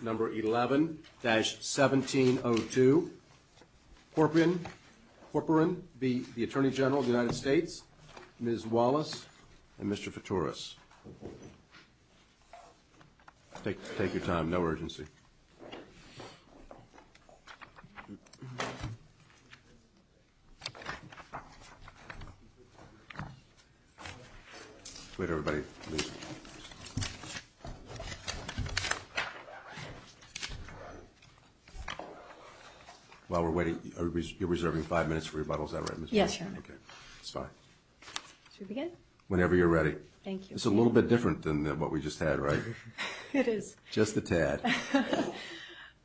number 11-1702 Corporan be the Attorney General of the United States Mr. Fitoris. Take your time. No urgency. Wait, everybody. While we're waiting, you're reserving five minutes for rebuttal. Is that right, Ms. Fitoris? Yes, Your Honor. Whenever you're ready. Thank you. It's a little bit different than what we just had, right? It is. Just a tad.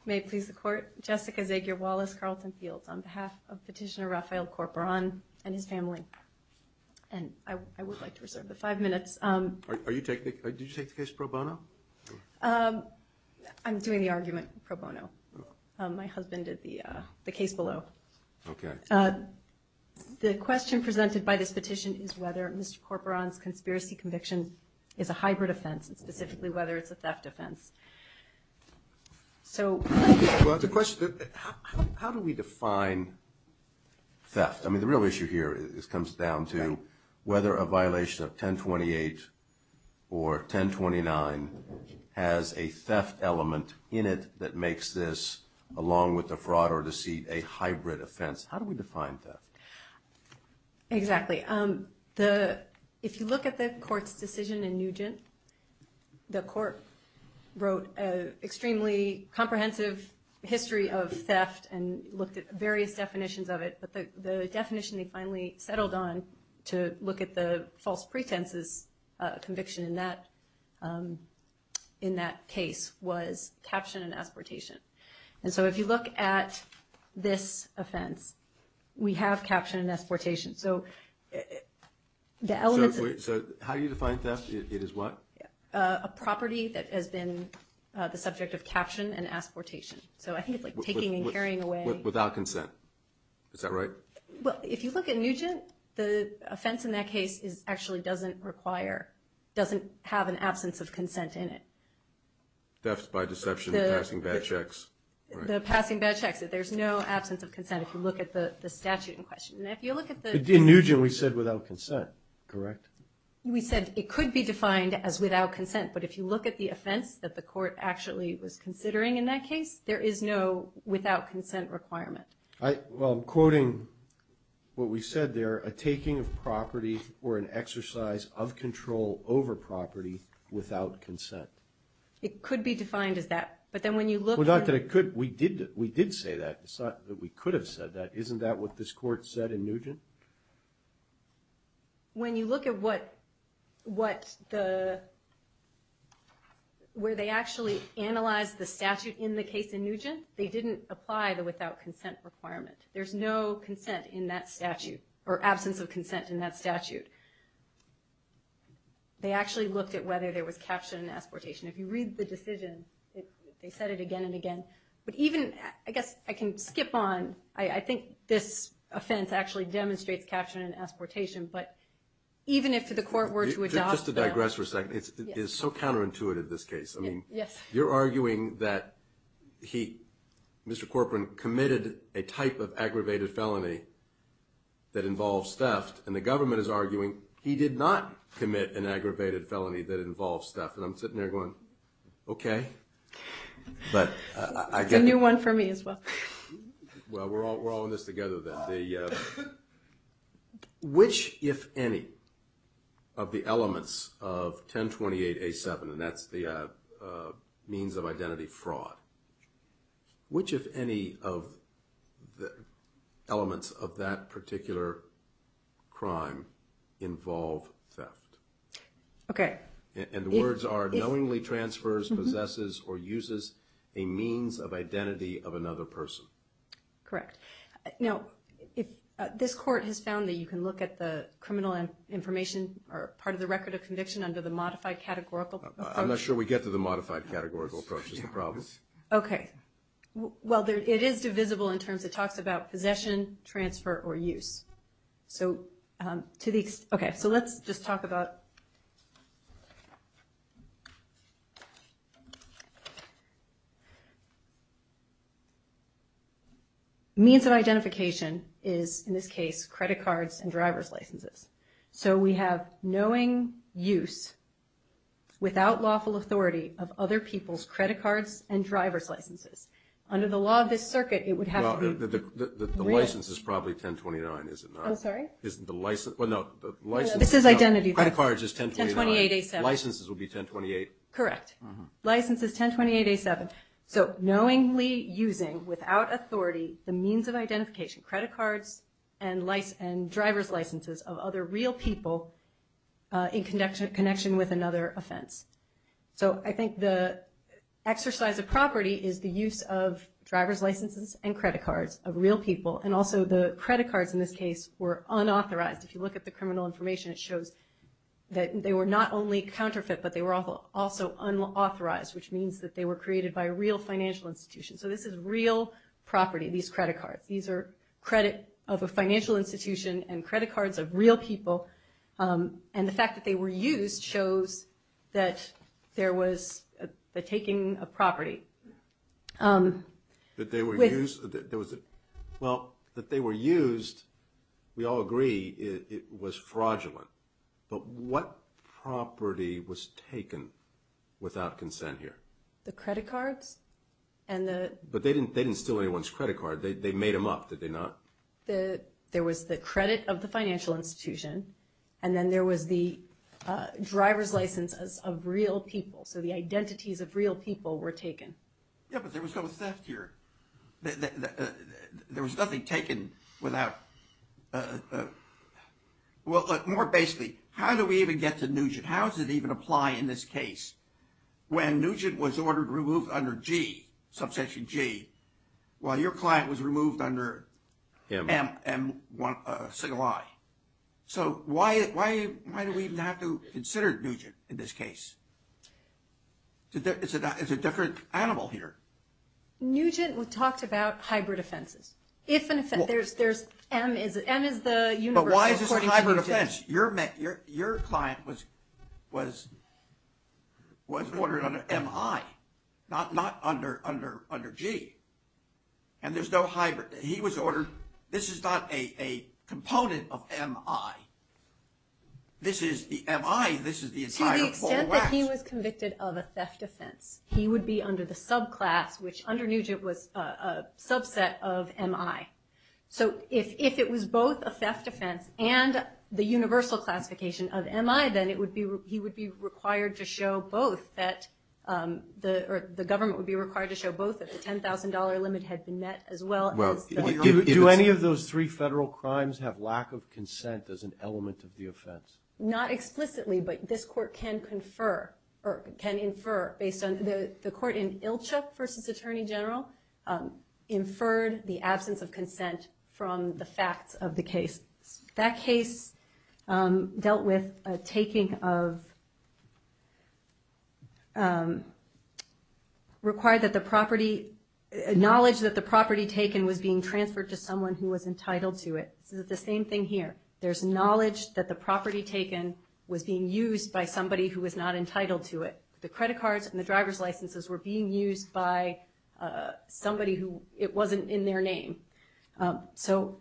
May it please the Court, Jessica Zegar Wallace Carlton Fields on behalf of Petitioner Raphael Corporan and his family. And I would like to reserve the five minutes. Did you take the case pro bono? I'm doing the argument pro bono. My husband did the case below. Okay. The question presented by this petition is whether Mr. Corporan's conspiracy conviction is a hybrid offense, and specifically whether it's a theft offense. Well, the question, how do we define theft? I mean, the real issue here comes down to whether a violation of 1028 or 1029 has a theft element in it that makes this, along with the fraud or deceit, a hybrid offense. How do we define theft? Exactly. If you look at the Court's decision in Nugent, the Court wrote an extremely comprehensive history of theft and looked at various definitions of it. But the definition they finally settled on to look at the false pretenses conviction in that case was caption and asportation. And so if you look at this offense, we have caption and asportation. So the elements of – So how do you define theft? It is what? A property that has been the subject of caption and asportation. So I think it's like taking and carrying away – Well, if you look at Nugent, the offense in that case actually doesn't require, doesn't have an absence of consent in it. Theft by deception, passing bad checks. The passing bad checks, there's no absence of consent if you look at the statute in question. In Nugent we said without consent, correct? We said it could be defined as without consent, but if you look at the offense that the Court actually was considering in that case, there is no without consent requirement. Well, I'm quoting what we said there, a taking of property or an exercise of control over property without consent. It could be defined as that. But then when you look – Well, not that it could. We did say that. It's not that we could have said that. Isn't that what this Court said in Nugent? When you look at what the – where they actually analyzed the statute in the case in Nugent, they didn't apply the without consent requirement. There's no consent in that statute, or absence of consent in that statute. They actually looked at whether there was capture and exportation. If you read the decision, they said it again and again. But even – I guess I can skip on – I think this offense actually demonstrates capture and exportation, but even if the Court were to adopt them – Just to digress for a second. It's so counterintuitive, this case. Yes. You're arguing that he, Mr. Corcoran, committed a type of aggravated felony that involves theft, and the government is arguing he did not commit an aggravated felony that involves theft. And I'm sitting there going, okay. But I think – A new one for me as well. Well, we're all in this together then. Which, if any, of the elements of 1028A7 – and that's the means of identity fraud – which, if any, of the elements of that particular crime involve theft? Okay. And the words are, knowingly transfers, possesses, or uses a means of identity of another person. Correct. Now, this Court has found that you can look at the criminal information or part of the record of conviction under the modified categorical approach. I'm not sure we get to the modified categorical approach. That's the problem. Okay. Well, it is divisible in terms – it talks about possession, transfer, or use. Okay. So let's just talk about – means of identification is, in this case, credit cards and driver's licenses. So we have knowing use, without lawful authority, of other people's credit cards and driver's licenses. Under the law of this circuit, it would have to be – The license is probably 1029, is it not? I'm sorry? Well, no. This is identity theft. Credit cards is 1029. 1028A7. Licenses would be 1028. Correct. License is 1028A7. So knowingly using, without authority, the means of identification, credit cards and driver's licenses of other real people in connection with another offense. So I think the exercise of property is the use of driver's licenses and credit cards of real people. And also the credit cards, in this case, were unauthorized. If you look at the criminal information, it shows that they were not only counterfeit, but they were also unauthorized, which means that they were created by a real financial institution. So this is real property, these credit cards. These are credit of a financial institution and credit cards of real people. And the fact that they were used shows that there was the taking of property. That they were used? Well, that they were used, we all agree, it was fraudulent. But what property was taken without consent here? The credit cards and the – But they didn't steal anyone's credit card. They made them up, did they not? There was the credit of the financial institution and then there was the driver's licenses of real people. So the identities of real people were taken. Yeah, but there was no theft here. There was nothing taken without – Well, more basically, how do we even get to Nugent? How does it even apply in this case? When Nugent was ordered removed under G, subsection G, while your client was removed under M, single I. So why do we even have to consider Nugent in this case? It's a different animal here. Nugent talked about hybrid offenses. If an offense – there's M, M is the universal – But why is this a hybrid offense? Your client was ordered under MI, not under G. And there's no hybrid. He was ordered – this is not a component of MI. This is the MI, this is the entire – To the extent that he was convicted of a theft offense, he would be under the subclass, which under Nugent was a subset of MI. So if it was both a theft offense and the universal classification of MI, then it would be – he would be required to show both that – the government would be required to show both if the $10,000 limit had been met as well as – Do any of those three federal crimes have lack of consent as an element of the offense? Not explicitly, but this court can confer – or can infer based on – the court in Ilchuk v. Attorney General inferred the absence of consent from the facts of the case. That case dealt with a taking of – required that the property – knowledge that the property taken was being transferred to someone who was entitled to it. This is the same thing here. There's knowledge that the property taken was being used by somebody who was not entitled to it. The credit cards and the driver's licenses were being used by somebody who – it wasn't in their name. So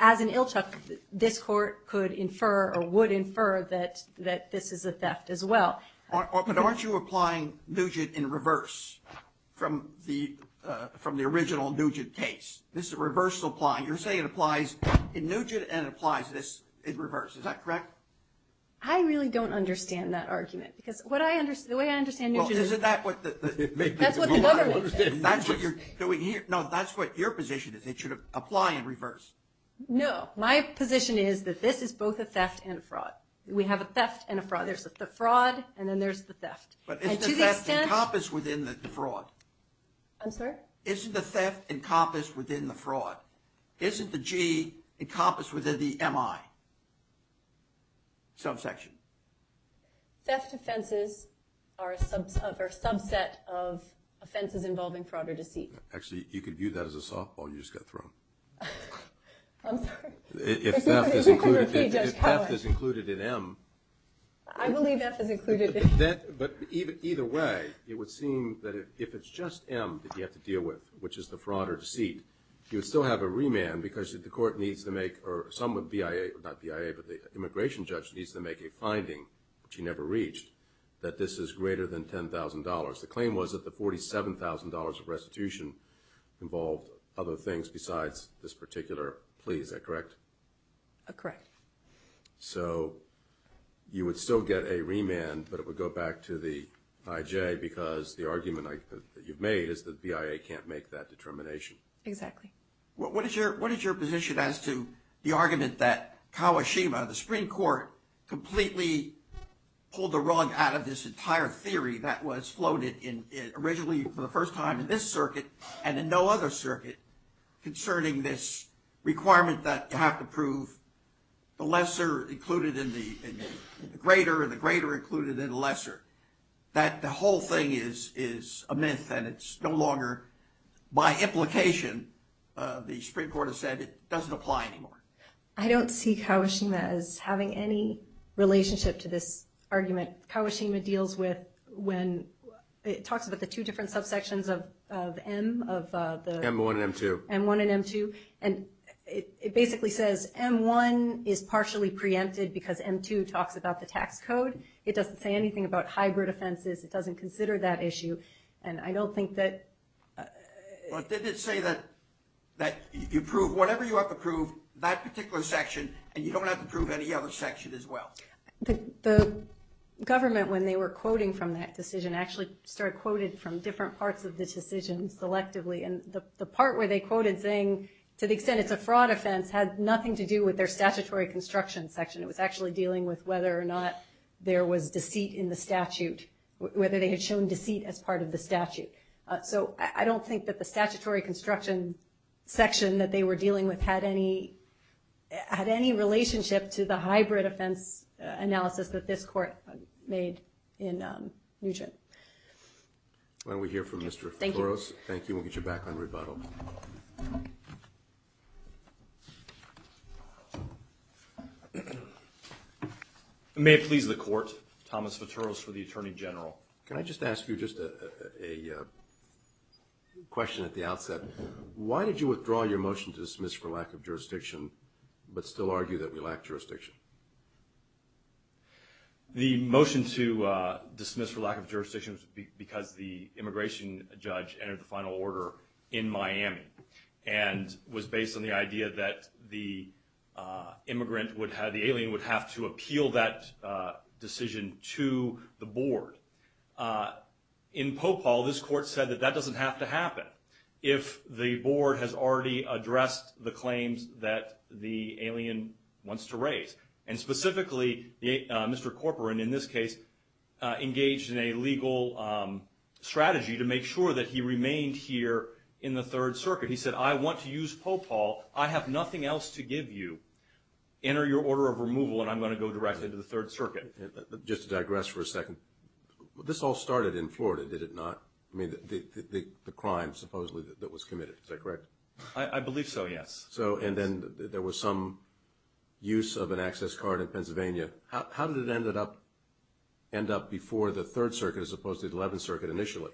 as in Ilchuk, this court could infer or would infer that this is a theft as well. But aren't you applying Nugent in reverse from the original Nugent case? This is a reversal applying. You're saying it applies in Nugent and it applies this in reverse. Is that correct? I really don't understand that argument. Because what I – the way I understand Nugent is – Well, isn't that what the – That's what the mother would say. That's what you're doing here. No, that's what your position is. It should apply in reverse. No. My position is that this is both a theft and a fraud. We have a theft and a fraud. There's the fraud and then there's the theft. But isn't the theft encompassed within the fraud? I'm sorry? Isn't the theft encompassed within the fraud? Isn't the G encompassed within the MI subsection? Theft offenses are a subset of offenses involving fraud or deceit. Actually, you could view that as a softball you just got thrown. I'm sorry. If theft is included in M. I believe theft is included in M. But either way, it would seem that if it's just M that you have to deal with, which is the fraud or deceit, you would still have a remand because the court needs to make – or some BIA – not BIA, but the immigration judge needs to make a finding, which he never reached, that this is greater than $10,000. The claim was that the $47,000 of restitution involved other things besides this particular plea. Is that correct? Correct. So you would still get a remand, but it would go back to the IJ because the argument that you've made is that BIA can't make that determination. Exactly. What is your position as to the argument that Kawashima, the Supreme Court, completely pulled the rug out of this entire theory that was floated originally for the first time in this circuit and in no other circuit concerning this requirement that you have to prove the lesser included in the greater and the greater included in the lesser, that the whole thing is a myth and it's no longer by implication. The Supreme Court has said it doesn't apply anymore. I don't see Kawashima as having any relationship to this argument. Kawashima deals with when it talks about the two different subsections of M of the M1 and M2. M1 and M2. And it basically says M1 is partially preempted because M2 talks about the tax code. It doesn't say anything about hybrid offenses. It doesn't consider that issue. And I don't think that Did it say that you prove whatever you have to prove, that particular section, and you don't have to prove any other section as well? The government, when they were quoting from that decision, actually started quoting from different parts of the decision selectively. And the part where they quoted saying, to the extent it's a fraud offense, had nothing to do with their statutory construction section. It was actually dealing with whether or not there was deceit in the statute, whether they had shown deceit as part of the statute. So I don't think that the statutory construction section that they were dealing with had any relationship to the hybrid offense analysis that this court made in Nguyen. Why don't we hear from Mr. Futuros. Thank you. We'll get you back on rebuttal. May it please the court, Thomas Futuros for the Attorney General. Can I just ask you just a question at the outset? Why did you withdraw your motion to dismiss for lack of jurisdiction, but still argue that we lack jurisdiction? The motion to dismiss for lack of jurisdiction was because the immigration judge entered the final order in Miami and was based on the idea that the immigrant would have, the alien would have to appeal that decision to the board. In Popal, this court said that that doesn't have to happen if the board has already addressed the claims that the alien wants to raise. And specifically, Mr. Corporan, in this case, engaged in a legal strategy to make sure that he remained here in the Third Circuit. He said, I want to use Popal. I have nothing else to give you. Enter your order of removal, and I'm going to go directly to the Third Circuit. Just to digress for a second, this all started in Florida, did it not? I mean, the crime, supposedly, that was committed. Is that correct? I believe so, yes. So, and then there was some use of an access card in Pennsylvania. How did it end up before the Third Circuit as opposed to the Eleventh Circuit initially?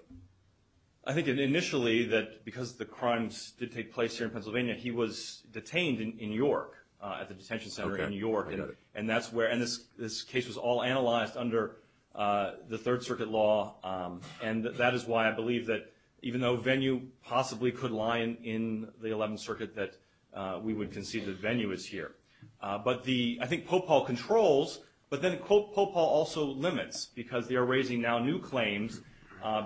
I think initially that because the crimes did take place here in Pennsylvania, he was detained in York at the detention center in York. And this case was all analyzed under the Third Circuit law, and that is why I believe that even though Venue possibly could lie in the Eleventh Circuit, that we would concede that Venue is here. But I think Popal controls, but then Popal also limits because they are raising now new claims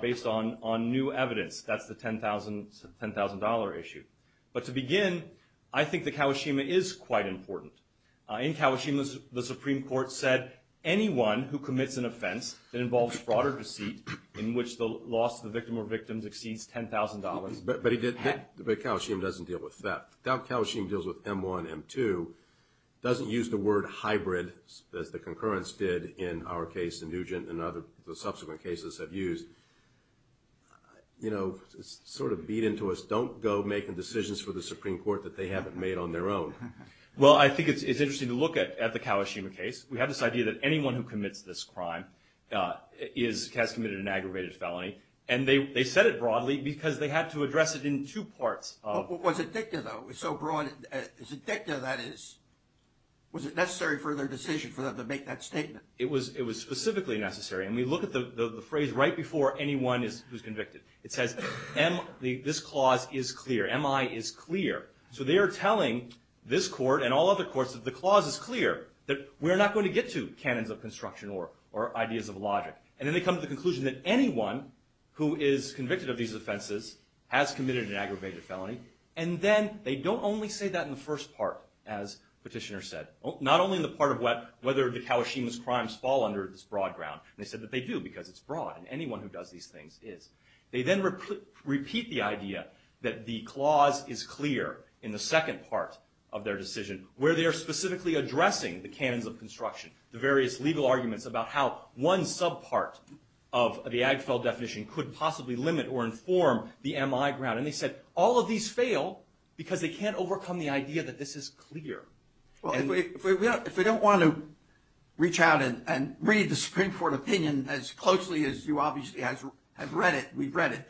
based on new evidence. That's the $10,000 issue. But to begin, I think that Kawashima is quite important. In Kawashima, the Supreme Court said, anyone who commits an offense that involves fraud or deceit in which the loss of the victim or victims exceeds $10,000. But Kawashima doesn't deal with that. Kawashima deals with M1, M2, doesn't use the word hybrid, as the concurrence did in our case in Nugent and other subsequent cases have used. You know, it's sort of beat into us, don't go making decisions for the Supreme Court that they haven't made on their own. Well, I think it's interesting to look at the Kawashima case. We have this idea that anyone who commits this crime has committed an aggravated felony. And they said it broadly because they had to address it in two parts. Was it dicta, though? So broad, is it dicta, that is? Was it necessary for their decision for them to make that statement? It was specifically necessary. And we look at the phrase right before anyone who's convicted. It says, this clause is clear, MI is clear. So they are telling this court and all other courts that the clause is clear, that we're not going to get to canons of construction or ideas of logic. And then they come to the conclusion that anyone who is convicted of these offenses has committed an aggravated felony. And then they don't only say that in the first part, as Petitioner said. Not only in the part of whether the Kawashima's crimes fall under this broad ground. They said that they do because it's broad, and anyone who does these things is. They then repeat the idea that the clause is clear in the second part of their decision, where they are specifically addressing the canons of construction, the various legal arguments about how one sub-part of the Agfel definition could possibly limit or inform the MI ground. And they said all of these fail because they can't overcome the idea that this is clear. If we don't want to reach out and read the Supreme Court opinion as closely as you obviously have read it, we've read it.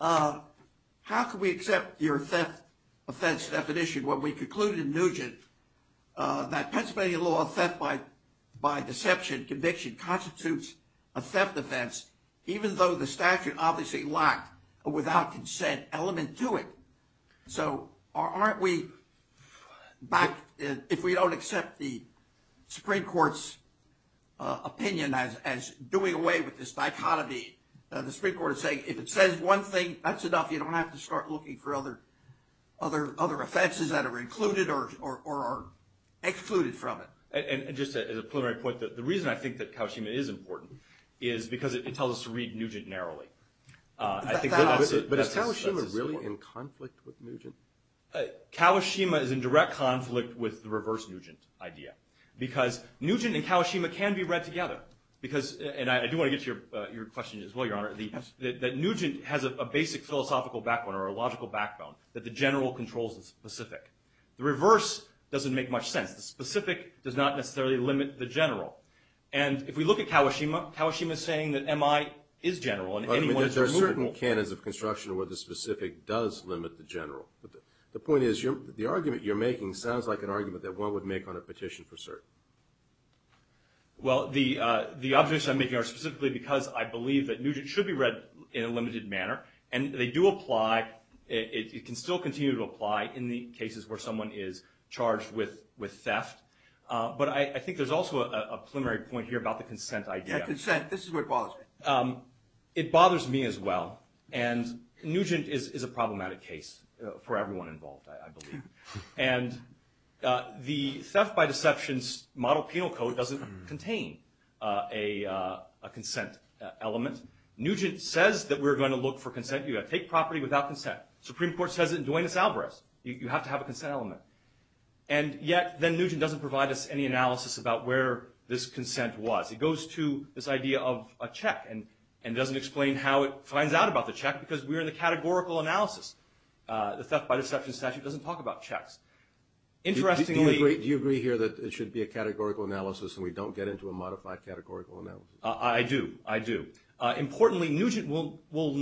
How can we accept your theft offense definition when we conclude in Nugent that Pennsylvania law of theft by deception, conviction, constitutes a theft offense, even though the statute obviously lacked a without consent element to it. So if we don't accept the Supreme Court's opinion as doing away with this dichotomy, the Supreme Court is saying if it says one thing, that's enough. You don't have to start looking for other offenses that are included or excluded from it. And just as a preliminary point, the reason I think that Kawashima is important is because it tells us to read Nugent narrowly. But is Kawashima really in conflict with Nugent? Kawashima is in direct conflict with the reverse Nugent idea because Nugent and Kawashima can be read together. And I do want to get to your question as well, Your Honor, that Nugent has a basic philosophical backbone or a logical backbone that the general controls the specific. The reverse doesn't make much sense. The specific does not necessarily limit the general. And if we look at Kawashima, Kawashima is saying that MI is general and anyone is removal. But there are certain canons of construction where the specific does limit the general. The point is the argument you're making sounds like an argument that one would make on a petition for cert. Well, the objections I'm making are specifically because I believe that Nugent should be read in a limited manner. And they do apply. It can still continue to apply in the cases where someone is charged with theft. But I think there's also a preliminary point here about the consent idea. Yeah, consent. This is what bothers me. It bothers me as well. And Nugent is a problematic case for everyone involved, I believe. And the Theft by Deception's model penal code doesn't contain a consent element. Nugent says that we're going to look for consent. You've got to take property without consent. Supreme Court says it in Duenas-Alvarez. You have to have a consent element. And yet then Nugent doesn't provide us any analysis about where this consent was. It goes to this idea of a check and doesn't explain how it finds out about the check because we're in the categorical analysis. The Theft by Deception statute doesn't talk about checks. Do you agree here that it should be a categorical analysis and we don't get into a modified categorical analysis? I do. I do. Importantly, Nugent will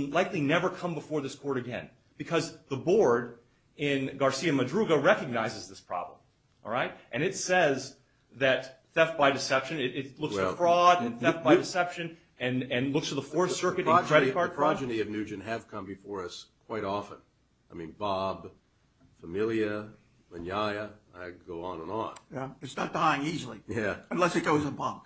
likely never come before this court again because the board in Garcia-Madruga recognizes this problem. And it says that Theft by Deception, it looks at fraud and Theft by Deception and looks at the Fourth Circuit and credit card fraud. The progeny of Nugent have come before us quite often. I mean, Bob, Familia, Manyaya, I could go on and on. It's not dying easily unless it goes in a bunk.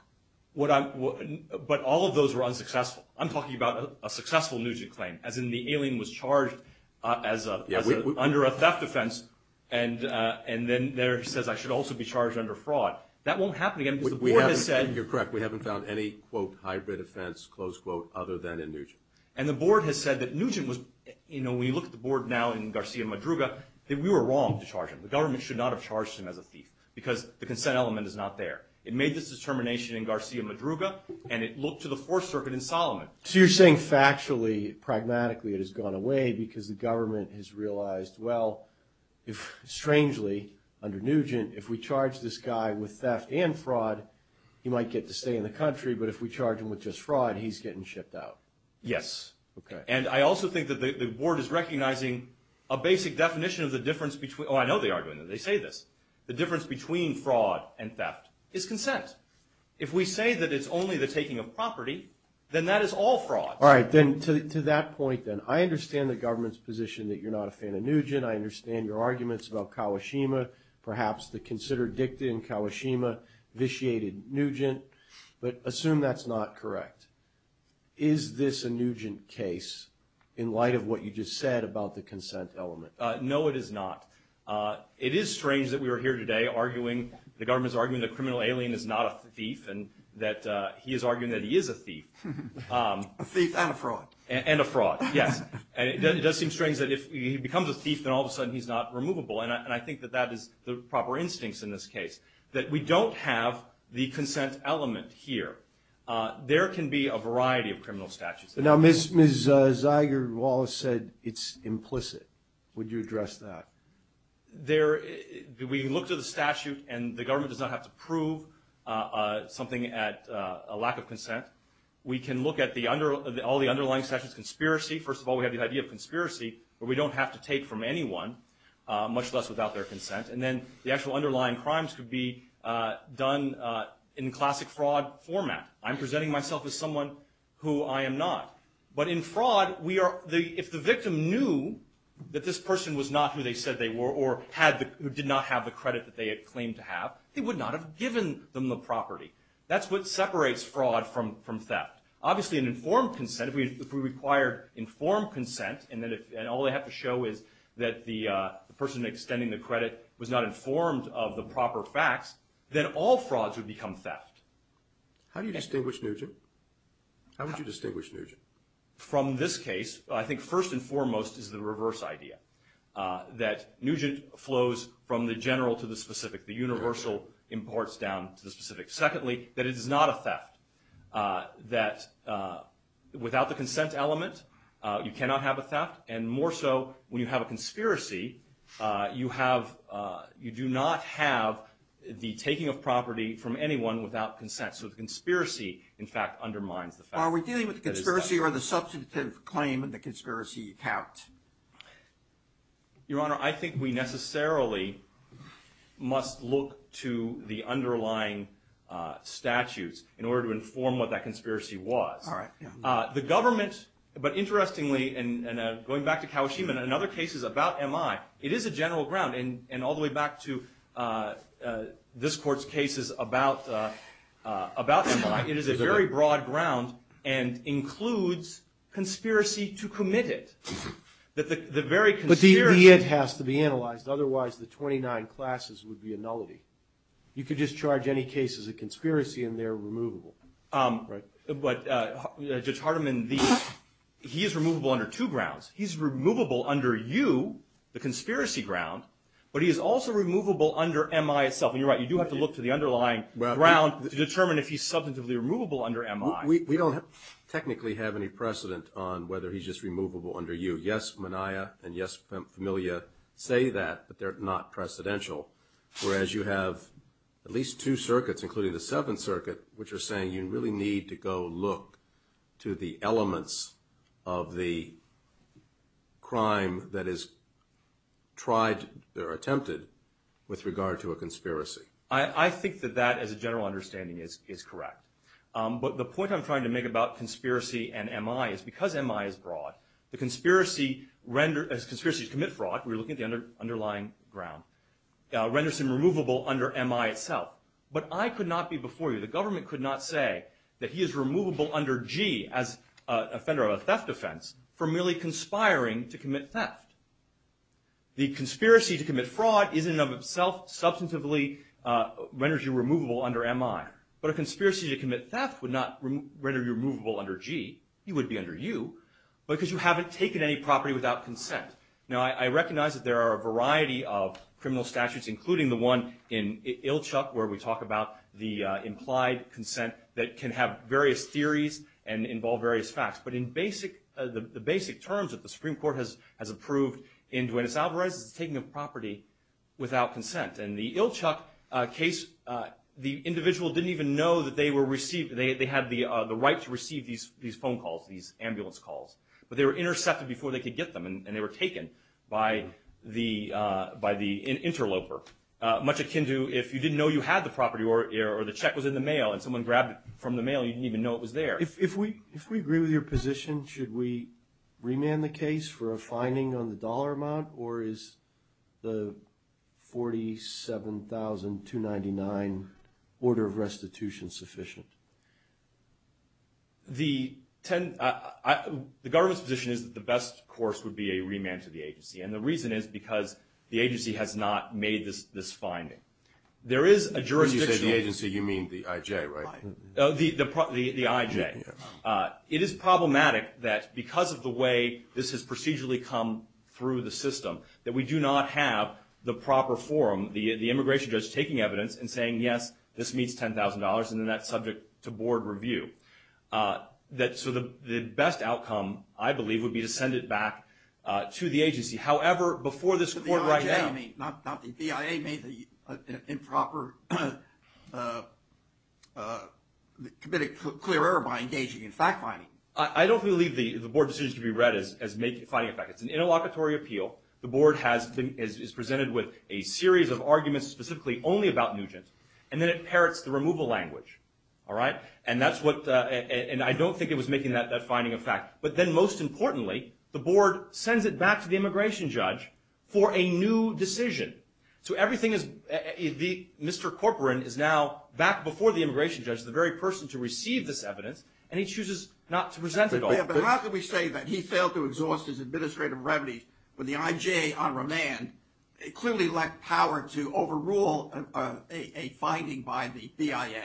But all of those were unsuccessful. I'm talking about a successful Nugent claim, as in the alien was charged under a theft offense and then there it says I should also be charged under fraud. That won't happen again because the board has said... You're correct. We haven't found any, quote, hybrid offense, close quote, other than in Nugent. And the board has said that Nugent was, you know, when you look at the board now in Garcia-Madruga, that we were wrong to charge him. The government should not have charged him as a thief because the consent element is not there. It made this determination in Garcia-Madruga and it looked to the Fourth Circuit in Solomon. So you're saying factually, pragmatically it has gone away because the government has realized, well, strangely, under Nugent, if we charge this guy with theft and fraud, he might get to stay in the country, but if we charge him with just fraud, he's getting shipped out. Yes. Okay. And I also think that the board is recognizing a basic definition of the difference between... Oh, I know they are doing that. They say this. The difference between fraud and theft is consent. If we say that it's only the taking of property, then that is all fraud. All right. Then to that point, then, I understand the government's position that you're not a fan of Nugent. I understand your arguments about Kawashima, perhaps the consider dicta in Kawashima vitiated Nugent, but assume that's not correct. Is this a Nugent case in light of what you just said about the consent element? No, it is not. It is strange that we are here today arguing, the government is arguing the criminal alien is not a thief and that he is arguing that he is a thief. A thief and a fraud. And a fraud, yes. And it does seem strange that if he becomes a thief, then all of a sudden he's not removable, and I think that that is the proper instincts in this case, that we don't have the consent element here. There can be a variety of criminal statutes. Now, Ms. Zeiger-Wallace said it's implicit. Would you address that? We look to the statute, and the government does not have to prove something at a lack of consent. We can look at all the underlying statutes. Conspiracy, first of all, we have the idea of conspiracy, but we don't have to take from anyone, much less without their consent. And then the actual underlying crimes could be done in classic fraud format. I'm presenting myself as someone who I am not. But in fraud, if the victim knew that this person was not who they said they were or did not have the credit that they had claimed to have, they would not have given them the property. That's what separates fraud from theft. Obviously, an informed consent, if we required informed consent, and all they have to show is that the person extending the credit was not informed of the proper facts, then all frauds would become theft. How do you distinguish Nugent? How would you distinguish Nugent? From this case, I think first and foremost is the reverse idea, that Nugent flows from the general to the specific. The universal imports down to the specific. Secondly, that it is not a theft. That without the consent element, you cannot have a theft. And more so, when you have a conspiracy, you do not have the taking of property from anyone without consent. So the conspiracy, in fact, undermines the fact that it is theft. Are we dealing with the conspiracy or the substantive claim that the conspiracy is theft? Your Honor, I think we necessarily must look to the underlying statutes in order to inform what that conspiracy was. The government, but interestingly, and going back to Kawashima, in other cases about MI, it is a general ground, and all the way back to this Court's cases about MI, it is a very broad ground and includes conspiracy to commit it. But the very conspiracy... But the idea has to be analyzed. Otherwise, the 29 classes would be a nullity. You could just charge any case as a conspiracy and they're removable. But Judge Hardiman, he is removable under two grounds. He's removable under U, the conspiracy ground, but he is also removable under MI itself. And you're right, you do have to look to the underlying ground to determine if he's substantively removable under MI. We don't technically have any precedent on whether he's just removable under U. Yes, Minaya and yes, Famiglia say that, but they're not precedential, whereas you have at least two circuits, including the Seventh Circuit, which are saying you really need to go look to the elements of the crime that is tried or attempted with regard to a conspiracy. I think that that, as a general understanding, is correct. But the point I'm trying to make about conspiracy and MI is, because MI is broad, the conspiracy to commit fraud, we're looking at the underlying ground, renders him removable under MI itself. But I could not be before you, the government could not say that he is removable under G, as offender of a theft offense, for merely conspiring to commit theft. The conspiracy to commit fraud is, in and of itself, substantively renders you removable under MI. But a conspiracy to commit theft would not render you removable under G. He would be under U, because you haven't taken any property without consent. Now, I recognize that there are a variety of criminal statutes, including the one in Ilchuk, where we talk about the implied consent that can have various theories and involve various facts. But in the basic terms that the Supreme Court has approved in Duenas-Alvarez, it's taking a property without consent. In the Ilchuk case, the individual didn't even know that they had the right to receive these phone calls, these ambulance calls. But they were intercepted before they could get them, and they were taken by the interloper, much akin to if you didn't know you had the property or the check was in the mail and someone grabbed it from the mail, you didn't even know it was there. If we agree with your position, should we remand the case for a finding on the dollar amount, or is the $47,299 order of restitution sufficient? The government's position is that the best course would be a remand to the agency, and the reason is because the agency has not made this finding. When you say the agency, you mean the I.J., right? The I.J. It is problematic that because of the way this has procedurally come through the system, that we do not have the proper forum, the immigration judge taking evidence and saying, yes, this meets $10,000, and then that's subject to board review. So the best outcome, I believe, would be to send it back to the agency. However, before this court right now – Not that the BIA made the improper – committed clear error by engaging in fact-finding. I don't believe the board decision to be read as making a finding of fact. It's an interlocutory appeal. The board is presented with a series of arguments specifically only about Nugent, and then it parrots the removal language, all right? And that's what – and I don't think it was making that finding of fact. But then most importantly, the board sends it back to the immigration judge for a new decision. So everything is – Mr. Corcoran is now back before the immigration judge, the very person to receive this evidence, and he chooses not to present it all. But how can we say that he failed to exhaust his administrative remedies when the I.J. on remand clearly lacked power to overrule a finding by the BIA?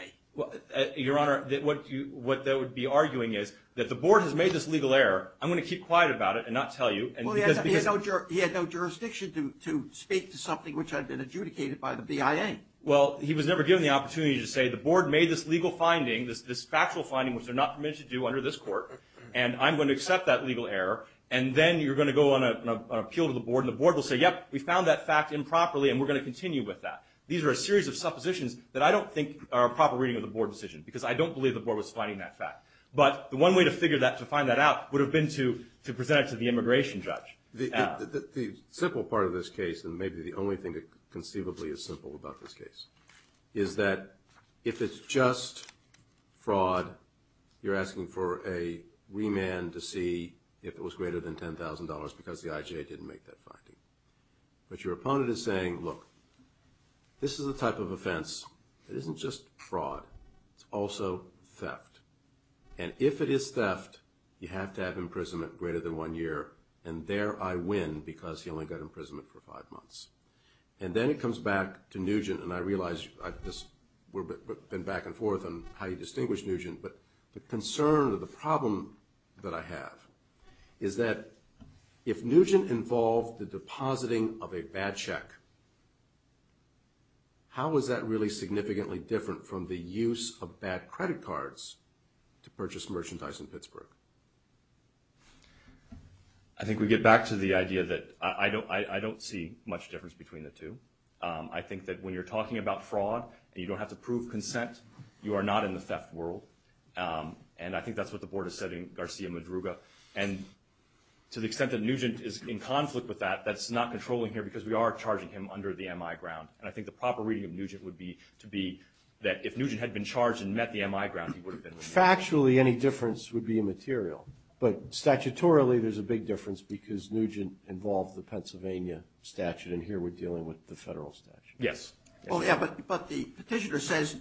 Your Honor, what they would be arguing is that the board has made this legal error. I'm going to keep quiet about it and not tell you. Well, he had no jurisdiction to speak to something which had been adjudicated by the BIA. Well, he was never given the opportunity to say the board made this legal finding, this factual finding which they're not permitted to do under this court, and I'm going to accept that legal error. And then you're going to go on an appeal to the board, and the board will say, yep, we found that fact improperly, and we're going to continue with that. These are a series of suppositions that I don't think are a proper reading of the board decision because I don't believe the board was finding that fact. But the one way to figure that, to find that out, would have been to present it to the immigration judge. The simple part of this case, and maybe the only thing that conceivably is simple about this case, is that if it's just fraud, you're asking for a remand to see if it was greater than $10,000 because the I.J. didn't make that finding. But your opponent is saying, look, this is a type of offense. It isn't just fraud. It's also theft. And if it is theft, you have to have imprisonment greater than one year, and there I win because he only got imprisonment for five months. And then it comes back to Nugent, and I realize we've been back and forth on how you distinguish Nugent, but the concern or the problem that I have is that if Nugent involved the depositing of a bad check, how is that really significantly different from the use of bad credit cards to purchase merchandise in Pittsburgh? I think we get back to the idea that I don't see much difference between the two. I think that when you're talking about fraud and you don't have to prove consent, you are not in the theft world, and I think that's what the board is saying, Garcia Madruga. And to the extent that Nugent is in conflict with that, that's not controlling here because we are charging him under the MI ground. And I think the proper reading of Nugent would be to be that if Nugent had been charged and met the MI ground, he would have been released. Factually, any difference would be immaterial. But statutorily, there's a big difference because Nugent involved the Pennsylvania statute, and here we're dealing with the federal statute. Yes. Well, yeah, but the petitioner says,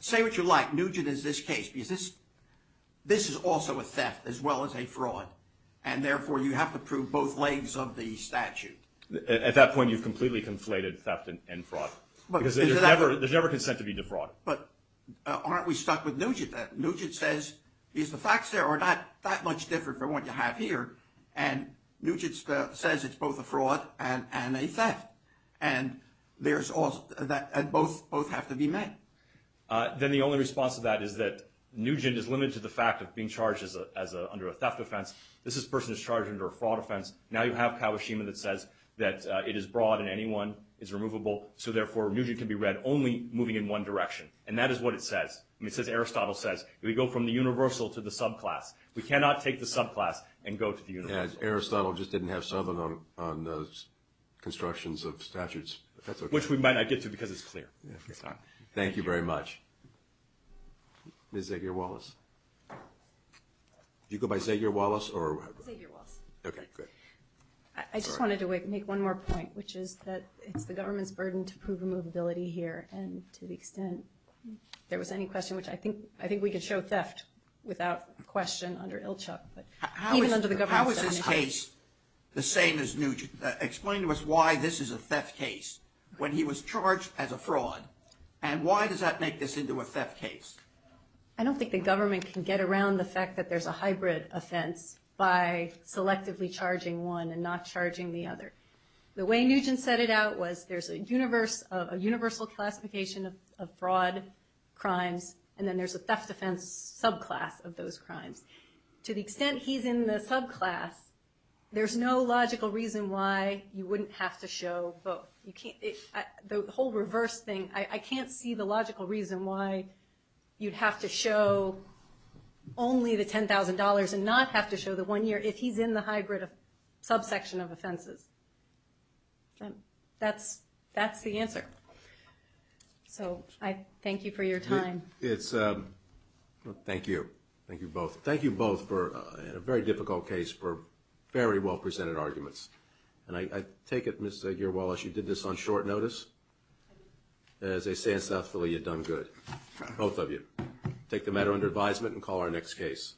say what you like. Nugent is this case because this is also a theft as well as a fraud, and therefore you have to prove both legs of the statute. At that point, you've completely conflated theft and fraud because there's never consent to be defrauded. But aren't we stuck with Nugent then? Nugent says, the facts there are not that much different from what you have here, and both have to be met. Then the only response to that is that Nugent is limited to the fact of being charged under a theft offense. This person is charged under a fraud offense. Now you have Kawashima that says that it is broad and anyone is removable, so therefore Nugent can be read only moving in one direction, and that is what it says. It says Aristotle says, we go from the universal to the subclass. We cannot take the subclass and go to the universal. Aristotle just didn't have Southern on the constructions of statutes. Which we might not get to because it's clear. Thank you very much. Ms. Xavier-Wallace. Did you go by Xavier-Wallace or? Xavier-Wallace. Okay, good. I just wanted to make one more point, which is that it's the government's burden to prove removability here, and to the extent there was any question, which I think we could show theft without question under Ilchuk. How is this case the same as Nugent? Explain to us why this is a theft case when he was charged as a fraud, and why does that make this into a theft case? I don't think the government can get around the fact that there's a hybrid offense by selectively charging one and not charging the other. The way Nugent set it out was there's a universal classification of fraud crimes, and then there's a theft offense subclass of those crimes. To the extent he's in the subclass, there's no logical reason why you wouldn't have to show both. The whole reverse thing, I can't see the logical reason why you'd have to show only the $10,000 and not have to show the one year if he's in the hybrid subsection of offenses. That's the answer. I thank you for your time. Thank you. Thank you both. Thank you both for a very difficult case, for very well presented arguments. I take it, Ms. Gere-Wallace, you did this on short notice? As they say in South Philly, you've done good. Both of you. Take the matter under advisement and call our next case.